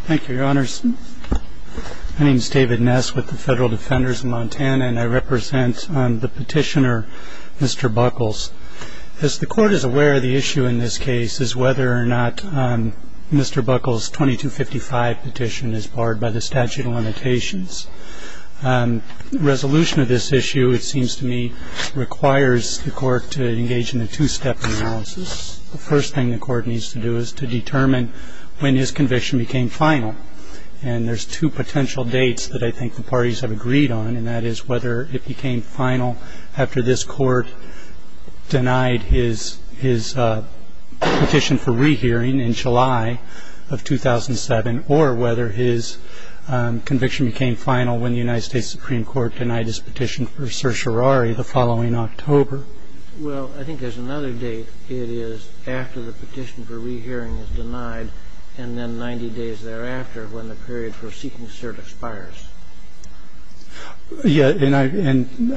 Thank you, Your Honors. My name is David Ness with the Federal Defenders of Montana, and I represent the petitioner, Mr. Buckles. As the Court is aware, the issue in this case is whether or not Mr. Buckles' 2255 petition is barred by the statute of limitations. The resolution of this issue, it seems to me, requires the Court to engage in a two-step analysis. The first thing the Court needs to do is to determine when his conviction became final. And there's two potential dates that I think the parties have agreed on, and that is whether it became final after this Court denied his petition for rehearing in July of 2007, or whether his conviction became final when the United States Supreme Court denied his petition for certiorari the following October. I'm not sure. Well, I think there's another date. It is after the petition for rehearing is denied, and then 90 days thereafter when the period for seeking cert expires. Yeah, and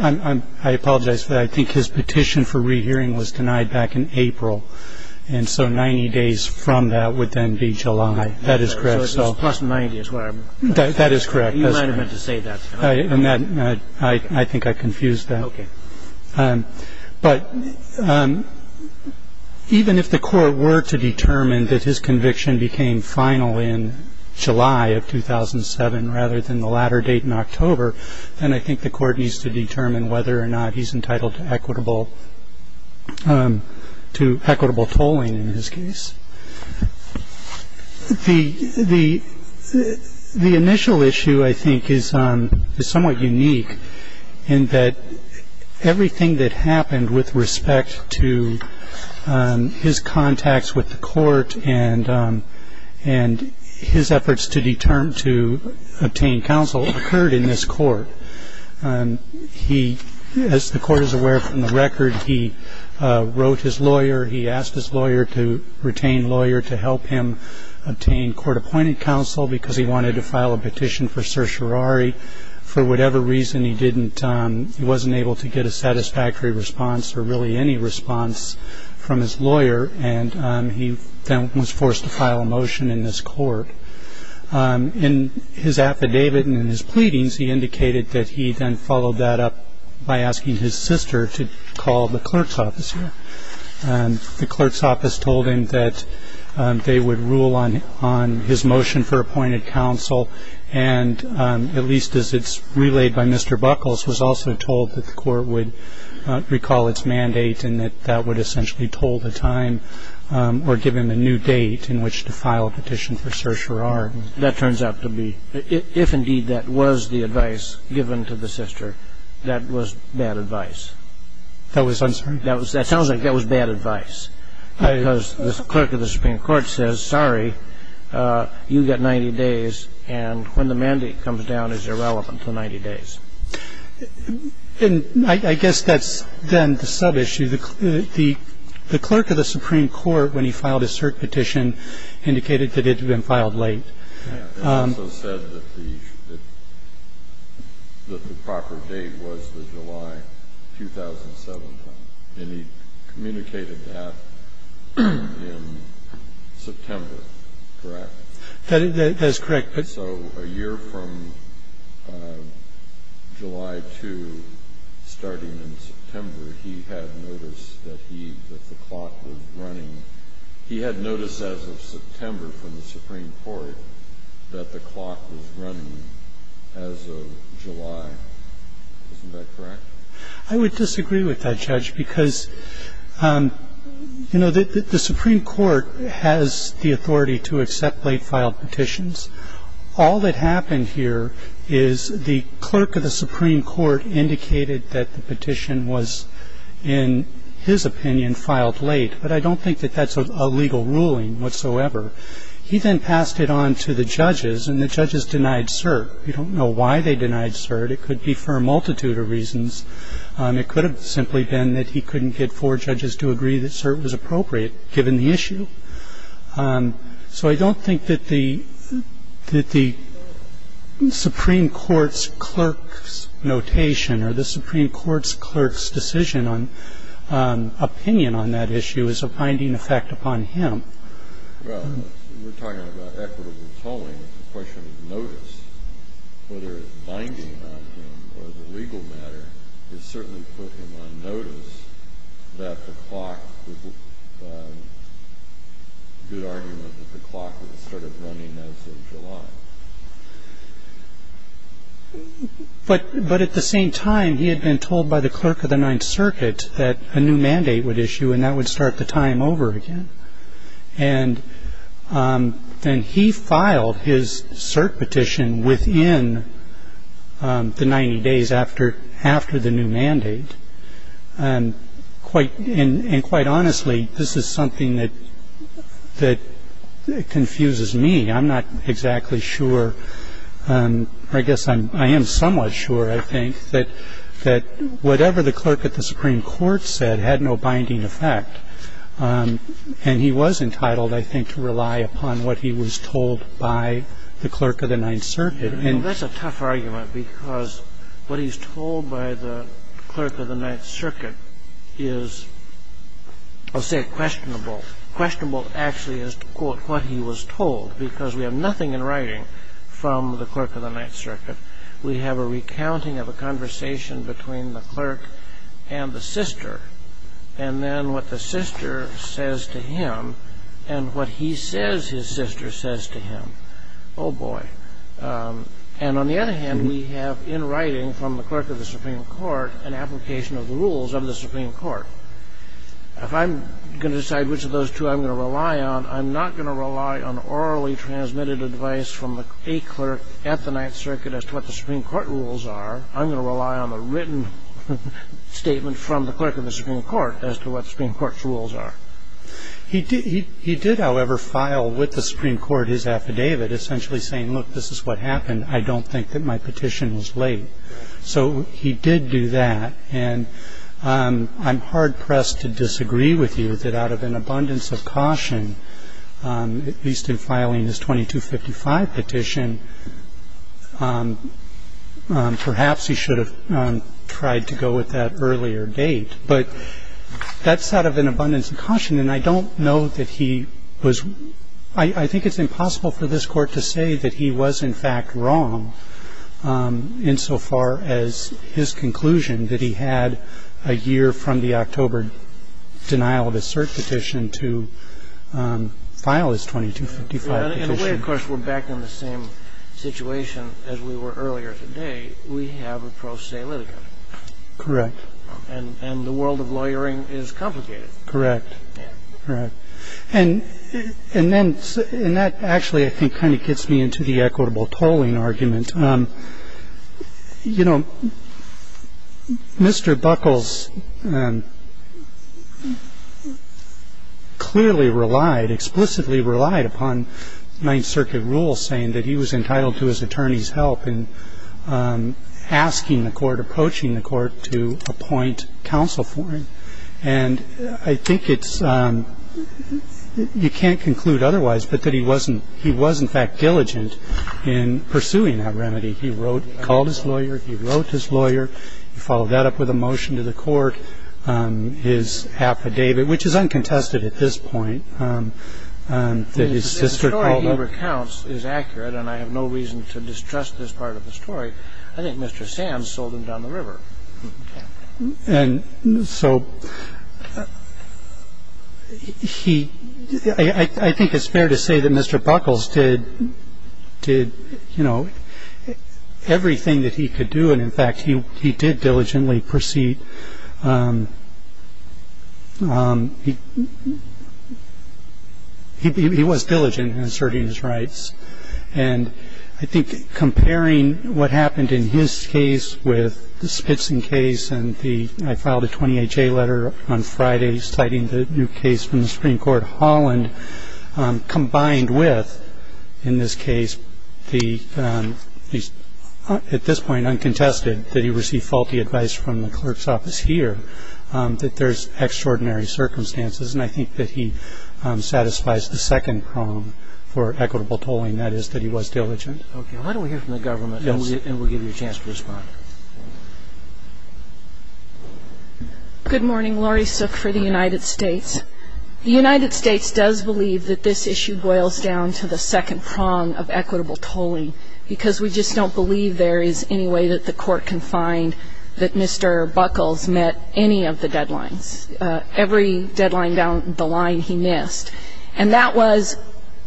I apologize, but I think his petition for rehearing was denied back in April. And so 90 days from that would then be July. That is correct. So it's plus 90 is where I'm going. That is correct. You might have meant to say that. I think I confused that. Okay. But even if the Court were to determine that his conviction became final in July of 2007 rather than the latter date in October, then I think the Court needs to determine whether or not he's entitled to equitable tolling in this case. The initial issue, I think, is somewhat unique in that everything that happened with respect to his contacts with the Court and his efforts to obtain counsel occurred in this Court. As the Court is aware from the record, he wrote his lawyer. He asked his lawyer to retain lawyer to help him obtain court-appointed counsel because he wanted to file a petition for certiorari. For whatever reason, he wasn't able to get a satisfactory response or really any response from his lawyer. And he then was forced to file a motion in this Court. In his affidavit and in his pleadings, he indicated that he then followed that up by asking his sister to call the clerk's office here. The clerk's office told him that they would rule on his motion for appointed counsel, and at least as it's relayed by Mr. Buckles, was also told that the Court would recall its mandate and that that would essentially toll the time or give him a new date in which to file a petition for certiorari. That turns out to be, if indeed that was the advice given to the sister, that was bad advice. That was, I'm sorry? That sounds like that was bad advice because the clerk of the Supreme Court says, I'm sorry. You've got 90 days. And when the mandate comes down, it's irrelevant to 90 days. And I guess that's then the subissue. The clerk of the Supreme Court, when he filed his cert petition, indicated that it had been filed late. And he also said that the proper date was the July 2007 time. And he communicated that in September, correct? That is correct. So a year from July 2, starting in September, he had noticed that he, that the clock was running. He had noticed as of September from the Supreme Court that the clock was running as of July. Isn't that correct? I would disagree with that, Judge, because, you know, the Supreme Court has the authority to accept late-filed petitions. All that happened here is the clerk of the Supreme Court indicated that the petition was, in his opinion, filed late. But I don't think that that's a legal ruling whatsoever. He then passed it on to the judges, and the judges denied cert. We don't know why they denied cert. It could be for a multitude of reasons. It could have simply been that he couldn't get four judges to agree that cert was appropriate, given the issue. So I don't think that the Supreme Court's clerk's notation or the Supreme Court's clerk's decision on opinion on that issue is a binding effect upon him. Well, we're talking about equitable tolling. It's a question of notice. Whether it's binding on him or the legal matter has certainly put him on notice that the clock, good argument that the clock started running as of July. But at the same time, he had been told by the clerk of the Ninth Circuit that a new mandate would issue, and that would start the time over again. And he filed his cert petition within the 90 days after the new mandate. And quite honestly, this is something that confuses me. I'm not exactly sure. I guess I am somewhat sure, I think, that whatever the clerk at the Supreme Court said had no binding effect. And he was entitled, I think, to rely upon what he was told by the clerk of the Ninth Circuit. And that's a tough argument, because what he's told by the clerk of the Ninth Circuit is, I'll say, questionable. Questionable, actually, is to quote what he was told, because we have nothing in writing from the clerk of the Ninth Circuit. We have a recounting of a conversation between the clerk and the sister, and then what the sister says to him and what he says his sister says to him. Oh, boy. And on the other hand, we have in writing from the clerk of the Supreme Court an application of the rules of the Supreme Court. If I'm going to decide which of those two I'm going to rely on, I'm not going to rely on orally transmitted advice from a clerk at the Ninth Circuit as to what the Supreme Court rules are. I'm going to rely on a written statement from the clerk of the Supreme Court as to what the Supreme Court's rules are. He did, however, file with the Supreme Court his affidavit, essentially saying, look, this is what happened. I don't think that my petition was late. So he did do that. And I'm hard-pressed to disagree with you that out of an abundance of caution, at least in filing his 2255 petition, perhaps he should have tried to go with that earlier date. But that's out of an abundance of caution. And I don't know that he was – I think it's impossible for this Court to say that he was in fact wrong insofar as his conclusion that he had a year from the October denial of his cert petition to file his 2255 petition. And we, of course, were back in the same situation as we were earlier today. We have a pro se litigant. Correct. And the world of lawyering is complicated. Correct. Correct. And that actually, I think, kind of gets me into the equitable tolling argument. You know, Mr. Buckles clearly relied, explicitly relied upon Ninth Circuit rules saying that he was entitled to his attorney's help in asking the Court, approaching the Court to appoint counsel for him. And I think it's – you can't conclude otherwise but that he wasn't – he was in fact diligent in pursuing that remedy. He wrote – called his lawyer. He wrote his lawyer. He followed that up with a motion to the Court. His affidavit, which is uncontested at this point, that his sister called – The story he recounts is accurate, and I have no reason to distrust this part of the story. I think Mr. Sands sold him down the river. And so he – I think it's fair to say that Mr. Buckles did, you know, everything that he could do, and in fact he did diligently proceed – he was diligent in asserting his rights. And I think comparing what happened in his case with the Spitzen case and the – I filed a 28-J letter on Friday citing the new case from the Supreme Court of Holland, combined with, in this case, the – at this point uncontested, that he received faulty advice from the clerk's office here, that there's extraordinary circumstances. And I think that he satisfies the second prong for equitable tolling, and that is that he was diligent. Okay. Why don't we hear from the government, and we'll give you a chance to respond. Good morning. Laurie Sook for the United States. The United States does believe that this issue boils down to the second prong of equitable tolling because we just don't believe there is any way that the Court can find that Mr. Buckles met any of the deadlines. Every deadline down the line he missed. And that was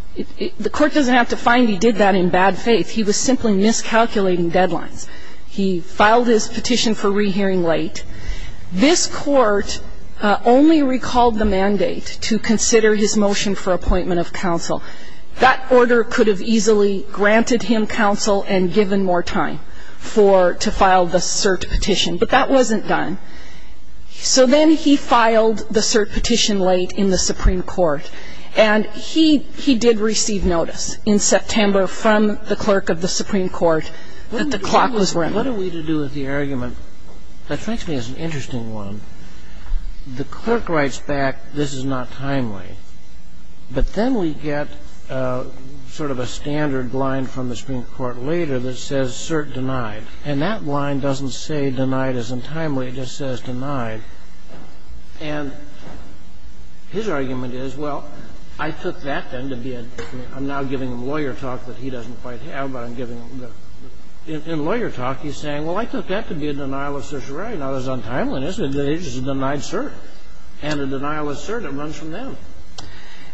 – the Court doesn't have to find he did that in bad faith. He was simply miscalculating deadlines. He filed his petition for rehearing late. This Court only recalled the mandate to consider his motion for appointment of counsel. That order could have easily granted him counsel and given more time for – to file the cert petition. But that wasn't done. So then he filed the cert petition late in the Supreme Court. And he did receive notice in September from the clerk of the Supreme Court that the clock was running. What are we to do with the argument? That strikes me as an interesting one. The clerk writes back, this is not timely. But then we get sort of a standard line from the Supreme Court later that says cert denied. And that line doesn't say denied as untimely. It just says denied. And his argument is, well, I took that then to be a – I'm now giving him lawyer talk that he doesn't quite have, but I'm giving him the – in lawyer talk, he's saying, well, I took that to be a denial of certiorari, not as untimely. It's a denied cert. And a denial of cert, it runs from them.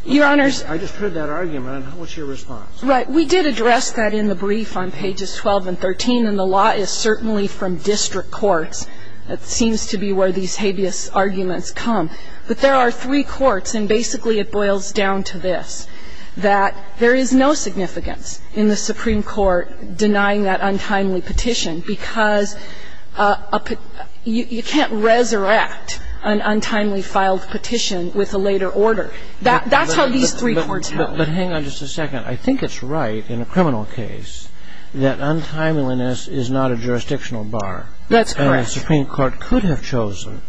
Your Honors – I just heard that argument. What's your response? We did address that in the brief on pages 12 and 13. And the law is certainly from district courts. It seems to be where these habeas arguments come. But there are three courts, and basically it boils down to this, that there is no significance in the Supreme Court denying that untimely petition because a – you can't resurrect an untimely filed petition with a later order. That's how these three courts help. But hang on just a second. I think it's right in a criminal case that untimeliness is not a jurisdictional bar. That's correct. And the Supreme Court could have chosen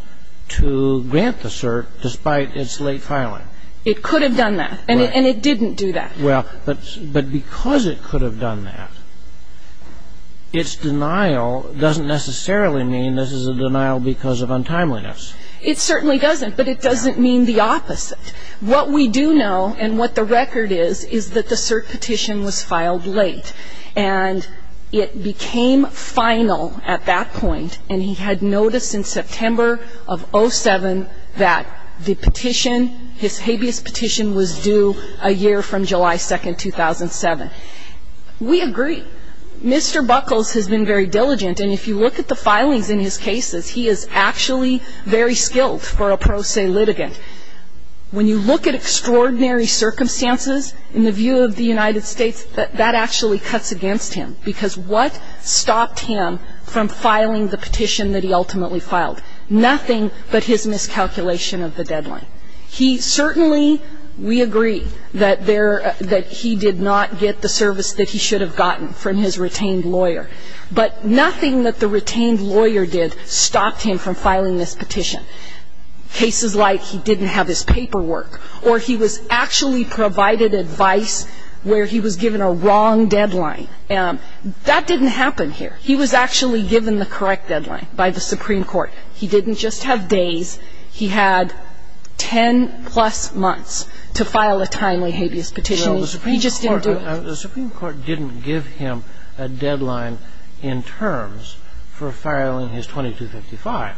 to grant the cert despite its late filing. It could have done that. Right. And it didn't do that. Well, but because it could have done that, its denial doesn't necessarily mean this is a denial because of untimeliness. It certainly doesn't, but it doesn't mean the opposite. What we do know and what the record is, is that the cert petition was filed late, and it became final at that point, and he had noticed in September of 07 that the petition, his habeas petition, was due a year from July 2, 2007. We agree. Mr. Buckles has been very diligent, and if you look at the filings in his cases, he is actually very skilled for a pro se litigant. When you look at extraordinary circumstances in the view of the United States, that actually cuts against him because what stopped him from filing the petition that he ultimately filed? Nothing but his miscalculation of the deadline. He certainly, we agree, that he did not get the service that he should have gotten from his retained lawyer, but nothing that the retained lawyer did stopped him from filing this petition. Cases like he didn't have his paperwork or he was actually provided advice where he was given a wrong deadline. That didn't happen here. He was actually given the correct deadline by the Supreme Court. He didn't just have days. He had 10-plus months to file a timely habeas petition. He just didn't do it. The Supreme Court didn't give him a deadline in terms for filing his 2255.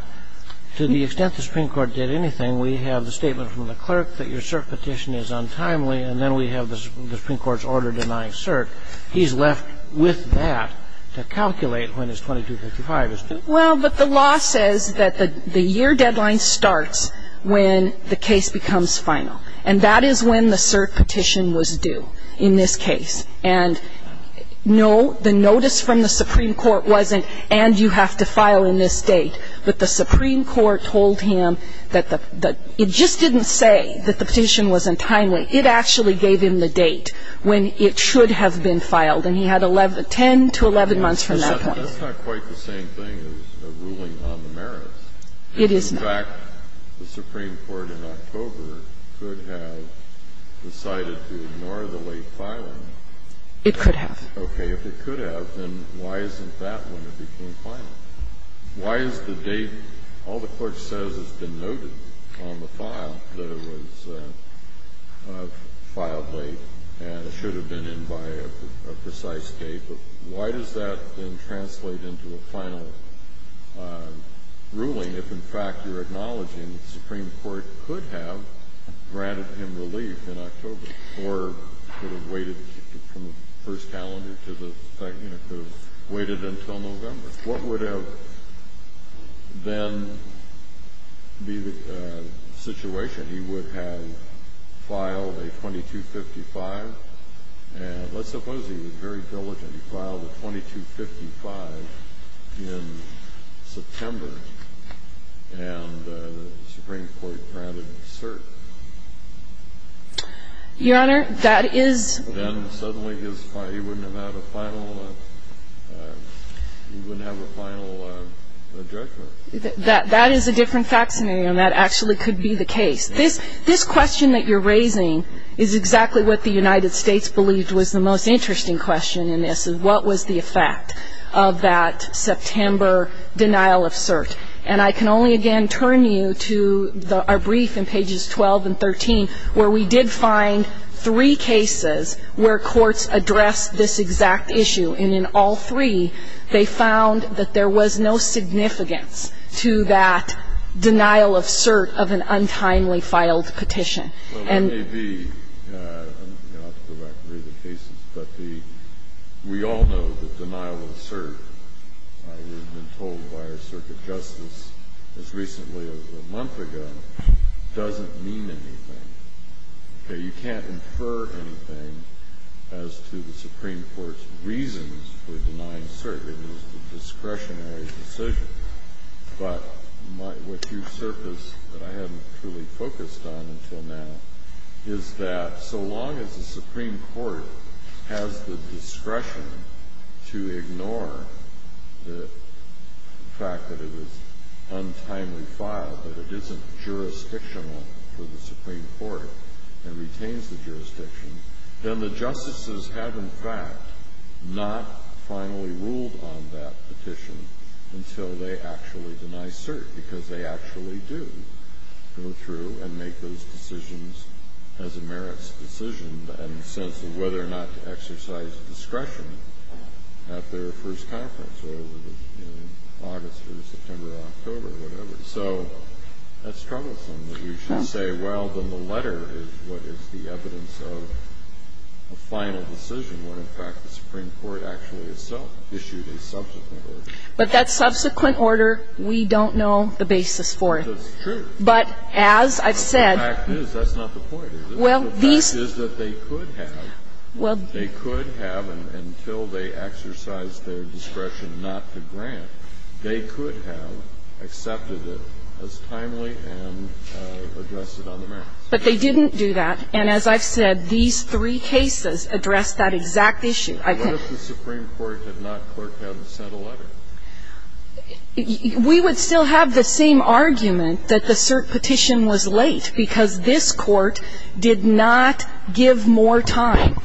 To the extent the Supreme Court did anything, we have the statement from the clerk that your cert petition is untimely, and then we have the Supreme Court's order denying cert. He's left with that to calculate when his 2255 is due. Well, but the law says that the year deadline starts when the case becomes final. And that is when the cert petition was due in this case. And no, the notice from the Supreme Court wasn't and you have to file in this date. But the Supreme Court told him that it just didn't say that the petition was untimely. It actually gave him the date when it should have been filed. And he had 10 to 11 months from that point. That's not quite the same thing as a ruling on the merits. It is not. In fact, the Supreme Court in October could have decided to ignore the late filing. It could have. Okay. If it could have, then why isn't that when it became final? Why is the date? All the clerk says has been noted on the file that it was filed late and it should have been in by a precise date. But why does that then translate into a final ruling if, in fact, you're acknowledging the Supreme Court could have granted him relief in October or could have waited from the first calendar to the second? It could have waited until November. What would have then be the situation? He would have filed a 2255. And let's suppose he was very diligent. He filed a 2255 in September and the Supreme Court granted cert. Your Honor, that is. Then suddenly he wouldn't have a final judgment. That is a different fact scenario, and that actually could be the case. This question that you're raising is exactly what the United States believed was the most interesting question in this, is what was the effect of that September denial of cert. And I can only, again, turn you to our brief in pages 12 and 13, where we did find three cases where courts addressed this exact issue. And in all three, they found that there was no significance to that denial of cert of an untimely-filed petition. And the ---- as recently as a month ago, doesn't mean anything. You can't infer anything as to the Supreme Court's reasons for denying cert. It was a discretionary decision. But what you've surfaced that I haven't truly focused on until now is that so long as the Supreme Court has the discretion to ignore the fact that it was untimely filed, that it isn't jurisdictional to the Supreme Court and retains the jurisdiction, then the justices have, in fact, not finally ruled on that petition until they actually deny cert, because they actually do go through and make those decisions as a merits decision in the sense of whether or not to exercise discretion at their first conference, whether it was in August or September or October or whatever. So that's troublesome that you should say, well, then the letter is what is the evidence of a final decision, when, in fact, the Supreme Court actually itself issued a subsequent order. But that subsequent order, we don't know the basis for it. That's true. But as I've said ---- The fact is, that's not the point, is it? The fact is that they could have. They could have until they exercised their discretion not to grant. They could have accepted it as timely and addressed it on the merits. But they didn't do that. And as I've said, these three cases address that exact issue. What if the Supreme Court had not clerked out and sent a letter? We would still have the same argument that the cert petition was late, because this Court did not give more time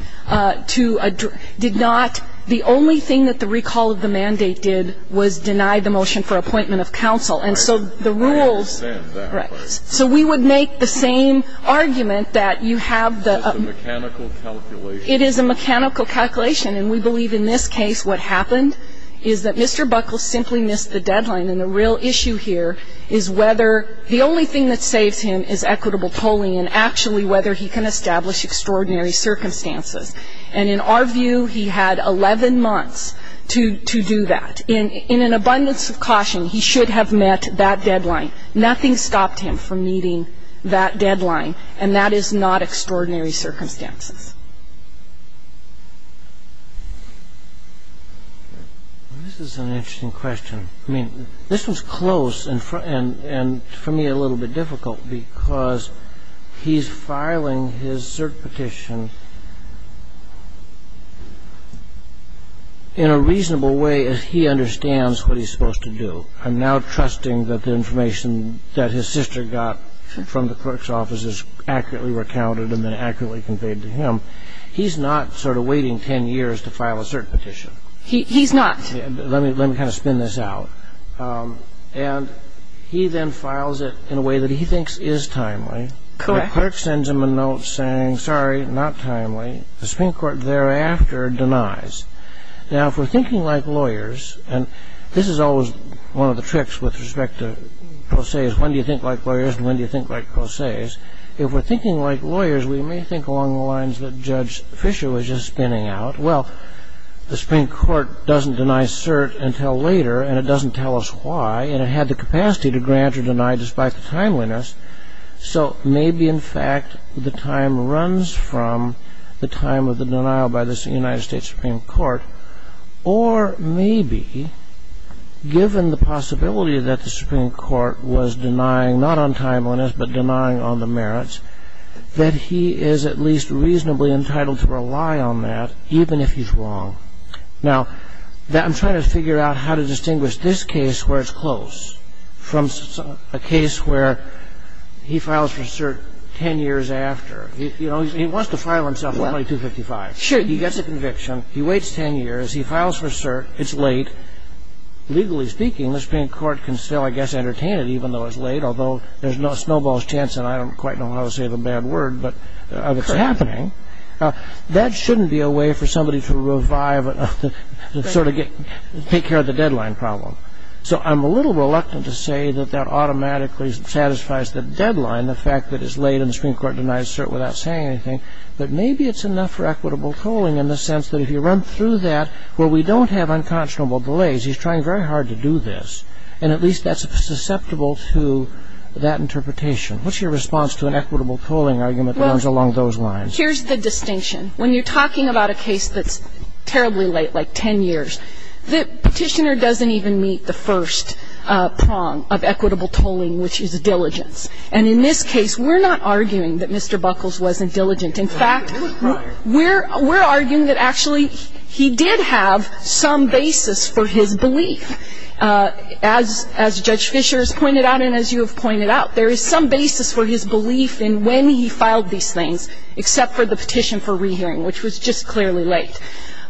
to address ---- did not ---- the only thing that the recall of the mandate did was deny the motion for appointment of counsel. And so the rules ---- I understand that. Right. So we would make the same argument that you have the ---- It's a mechanical calculation. It is a mechanical calculation. And we believe in this case what happened is that Mr. Buckles simply missed the deadline. And the real issue here is whether the only thing that saves him is equitable polling and actually whether he can establish extraordinary circumstances. And in our view, he had 11 months to do that. In an abundance of caution, he should have met that deadline. Nothing stopped him from meeting that deadline. And that is not extraordinary circumstances. This is an interesting question. I mean, this was close and for me a little bit difficult because he's filing his cert petition in a reasonable way as he understands what he's supposed to do. I'm now trusting that the information that his sister got from the clerk's office is accurately recounted and then accurately conveyed to him. He's not sort of waiting 10 years to file a cert petition. He's not. Let me kind of spin this out. And he then files it in a way that he thinks is timely. Correct. The clerk sends him a note saying, sorry, not timely. The Supreme Court thereafter denies. Now, if we're thinking like lawyers, and this is always one of the tricks with respect to process. When do you think like lawyers and when do you think like process? If we're thinking like lawyers, we may think along the lines that Judge Fisher was just spinning out. Well, the Supreme Court doesn't deny cert until later and it doesn't tell us why. And it had the capacity to grant or deny despite the timeliness. So maybe, in fact, the time runs from the time of the denial by the United States Supreme Court. Or maybe, given the possibility that the Supreme Court was denying not on timeliness but denying on the merits, that he is at least reasonably entitled to rely on that even if he's wrong. Now, I'm trying to figure out how to distinguish this case where it's close from a case where he files for cert 10 years after. You know, he wants to file himself only 255. Sure. He gets a conviction. He waits 10 years. He files for cert. It's late. Legally speaking, the Supreme Court can still, I guess, entertain it even though it's late, although there's no snowball's chance, and I don't quite know how to say the bad word, but it's happening. That shouldn't be a way for somebody to revive and sort of take care of the deadline problem. So I'm a little reluctant to say that that automatically satisfies the deadline, the fact that it's late and the Supreme Court denies cert without saying anything, but maybe it's enough for equitable tolling in the sense that if you run through that where we don't have unconscionable delays, he's trying very hard to do this, and at least that's susceptible to that interpretation. What's your response to an equitable tolling argument that runs along those lines? Well, here's the distinction. When you're talking about a case that's terribly late, like 10 years, the petitioner doesn't even meet the first prong of equitable tolling, which is diligence. And in this case, we're not arguing that Mr. Buckles wasn't diligent. In fact, we're arguing that actually he did have some basis for his belief. As Judge Fischer has pointed out and as you have pointed out, there is some basis for his belief in when he filed these things, except for the petition for rehearing, which was just clearly late.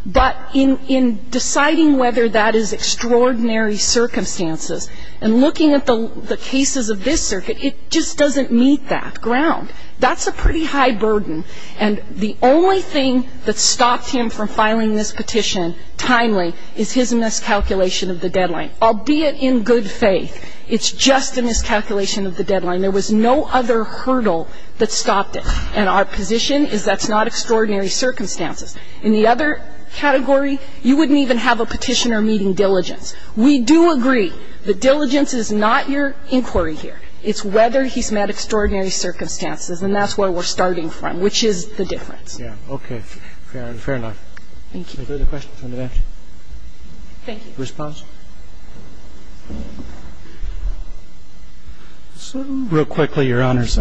But in deciding whether that is extraordinary circumstances and looking at the cases of this circuit, it just doesn't meet that ground. That's a pretty high burden, and the only thing that stopped him from filing this petition timely is his miscalculation of the deadline, albeit in good faith. It's just a miscalculation of the deadline. There was no other hurdle that stopped it, and our position is that's not extraordinary circumstances. In the other category, you wouldn't even have a petitioner meeting diligence. We do agree that diligence is not your inquiry here. It's whether he's met extraordinary circumstances, and that's where we're starting from, which is the difference. Okay. Fair enough. Thank you. Are there other questions on the bench? Thank you. Response? Real quickly, Your Honors.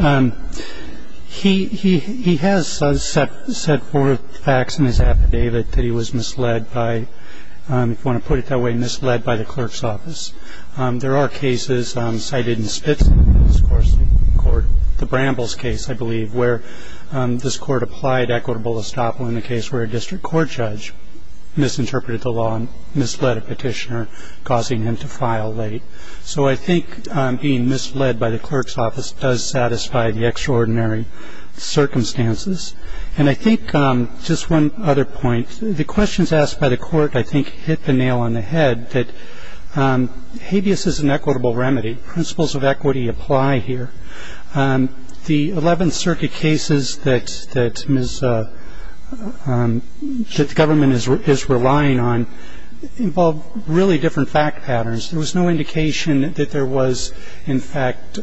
He has set forth facts in his affidavit that he was misled by, if you want to put it that way, misled by the clerk's office. There are cases cited in Spitzley's court, the Brambles case, I believe, where this court applied equitable estoppel in the case where a district court judge misinterpreted the law and misled a petitioner. So I think being misled by the clerk's office does satisfy the extraordinary circumstances. And I think just one other point. The questions asked by the court, I think, hit the nail on the head, that habeas is an equitable remedy. Principles of equity apply here. The Eleventh Circuit cases that the government is relying on involve really different fact patterns. There was no indication that there was, in fact,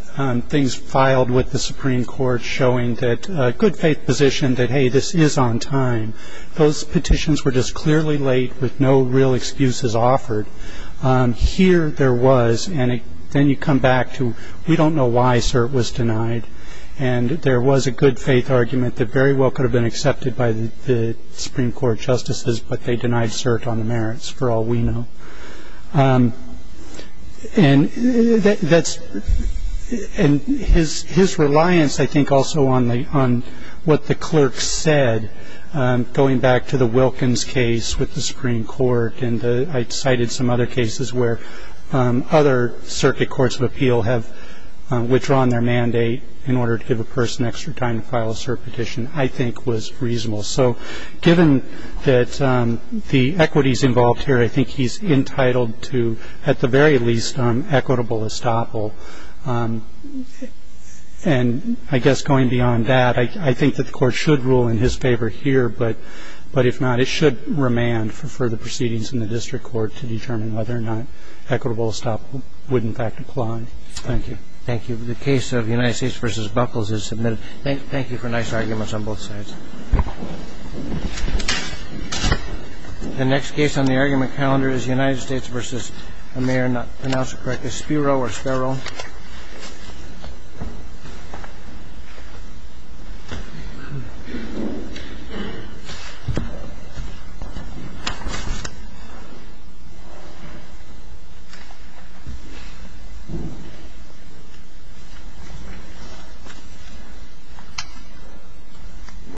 things filed with the Supreme Court showing that good faith position that, hey, this is on time. Those petitions were just clearly laid with no real excuses offered. Here there was, and then you come back to we don't know why cert was denied, and there was a good faith argument that very well could have been accepted by the Supreme Court justices, but they denied cert on the merits for all we know. And his reliance, I think, also on what the clerk said, going back to the Wilkins case with the Supreme Court, and I cited some other cases where other circuit courts of appeal have withdrawn their mandate in order to give a person extra time to file a cert petition, I think was reasonable. So given that the equities involved here, I think he's entitled to, at the very least, equitable estoppel. And I guess going beyond that, I think that the Court should rule in his favor here, but if not, it should remand for further proceedings in the district court to determine whether or not equitable estoppel would, in fact, apply. Thank you. Thank you. The case of United States v. Buckles is submitted. Thank you for nice arguments on both sides. The next case on the argument calendar is United States v. I may or may not pronounce it correctly. Spiro or Spiro?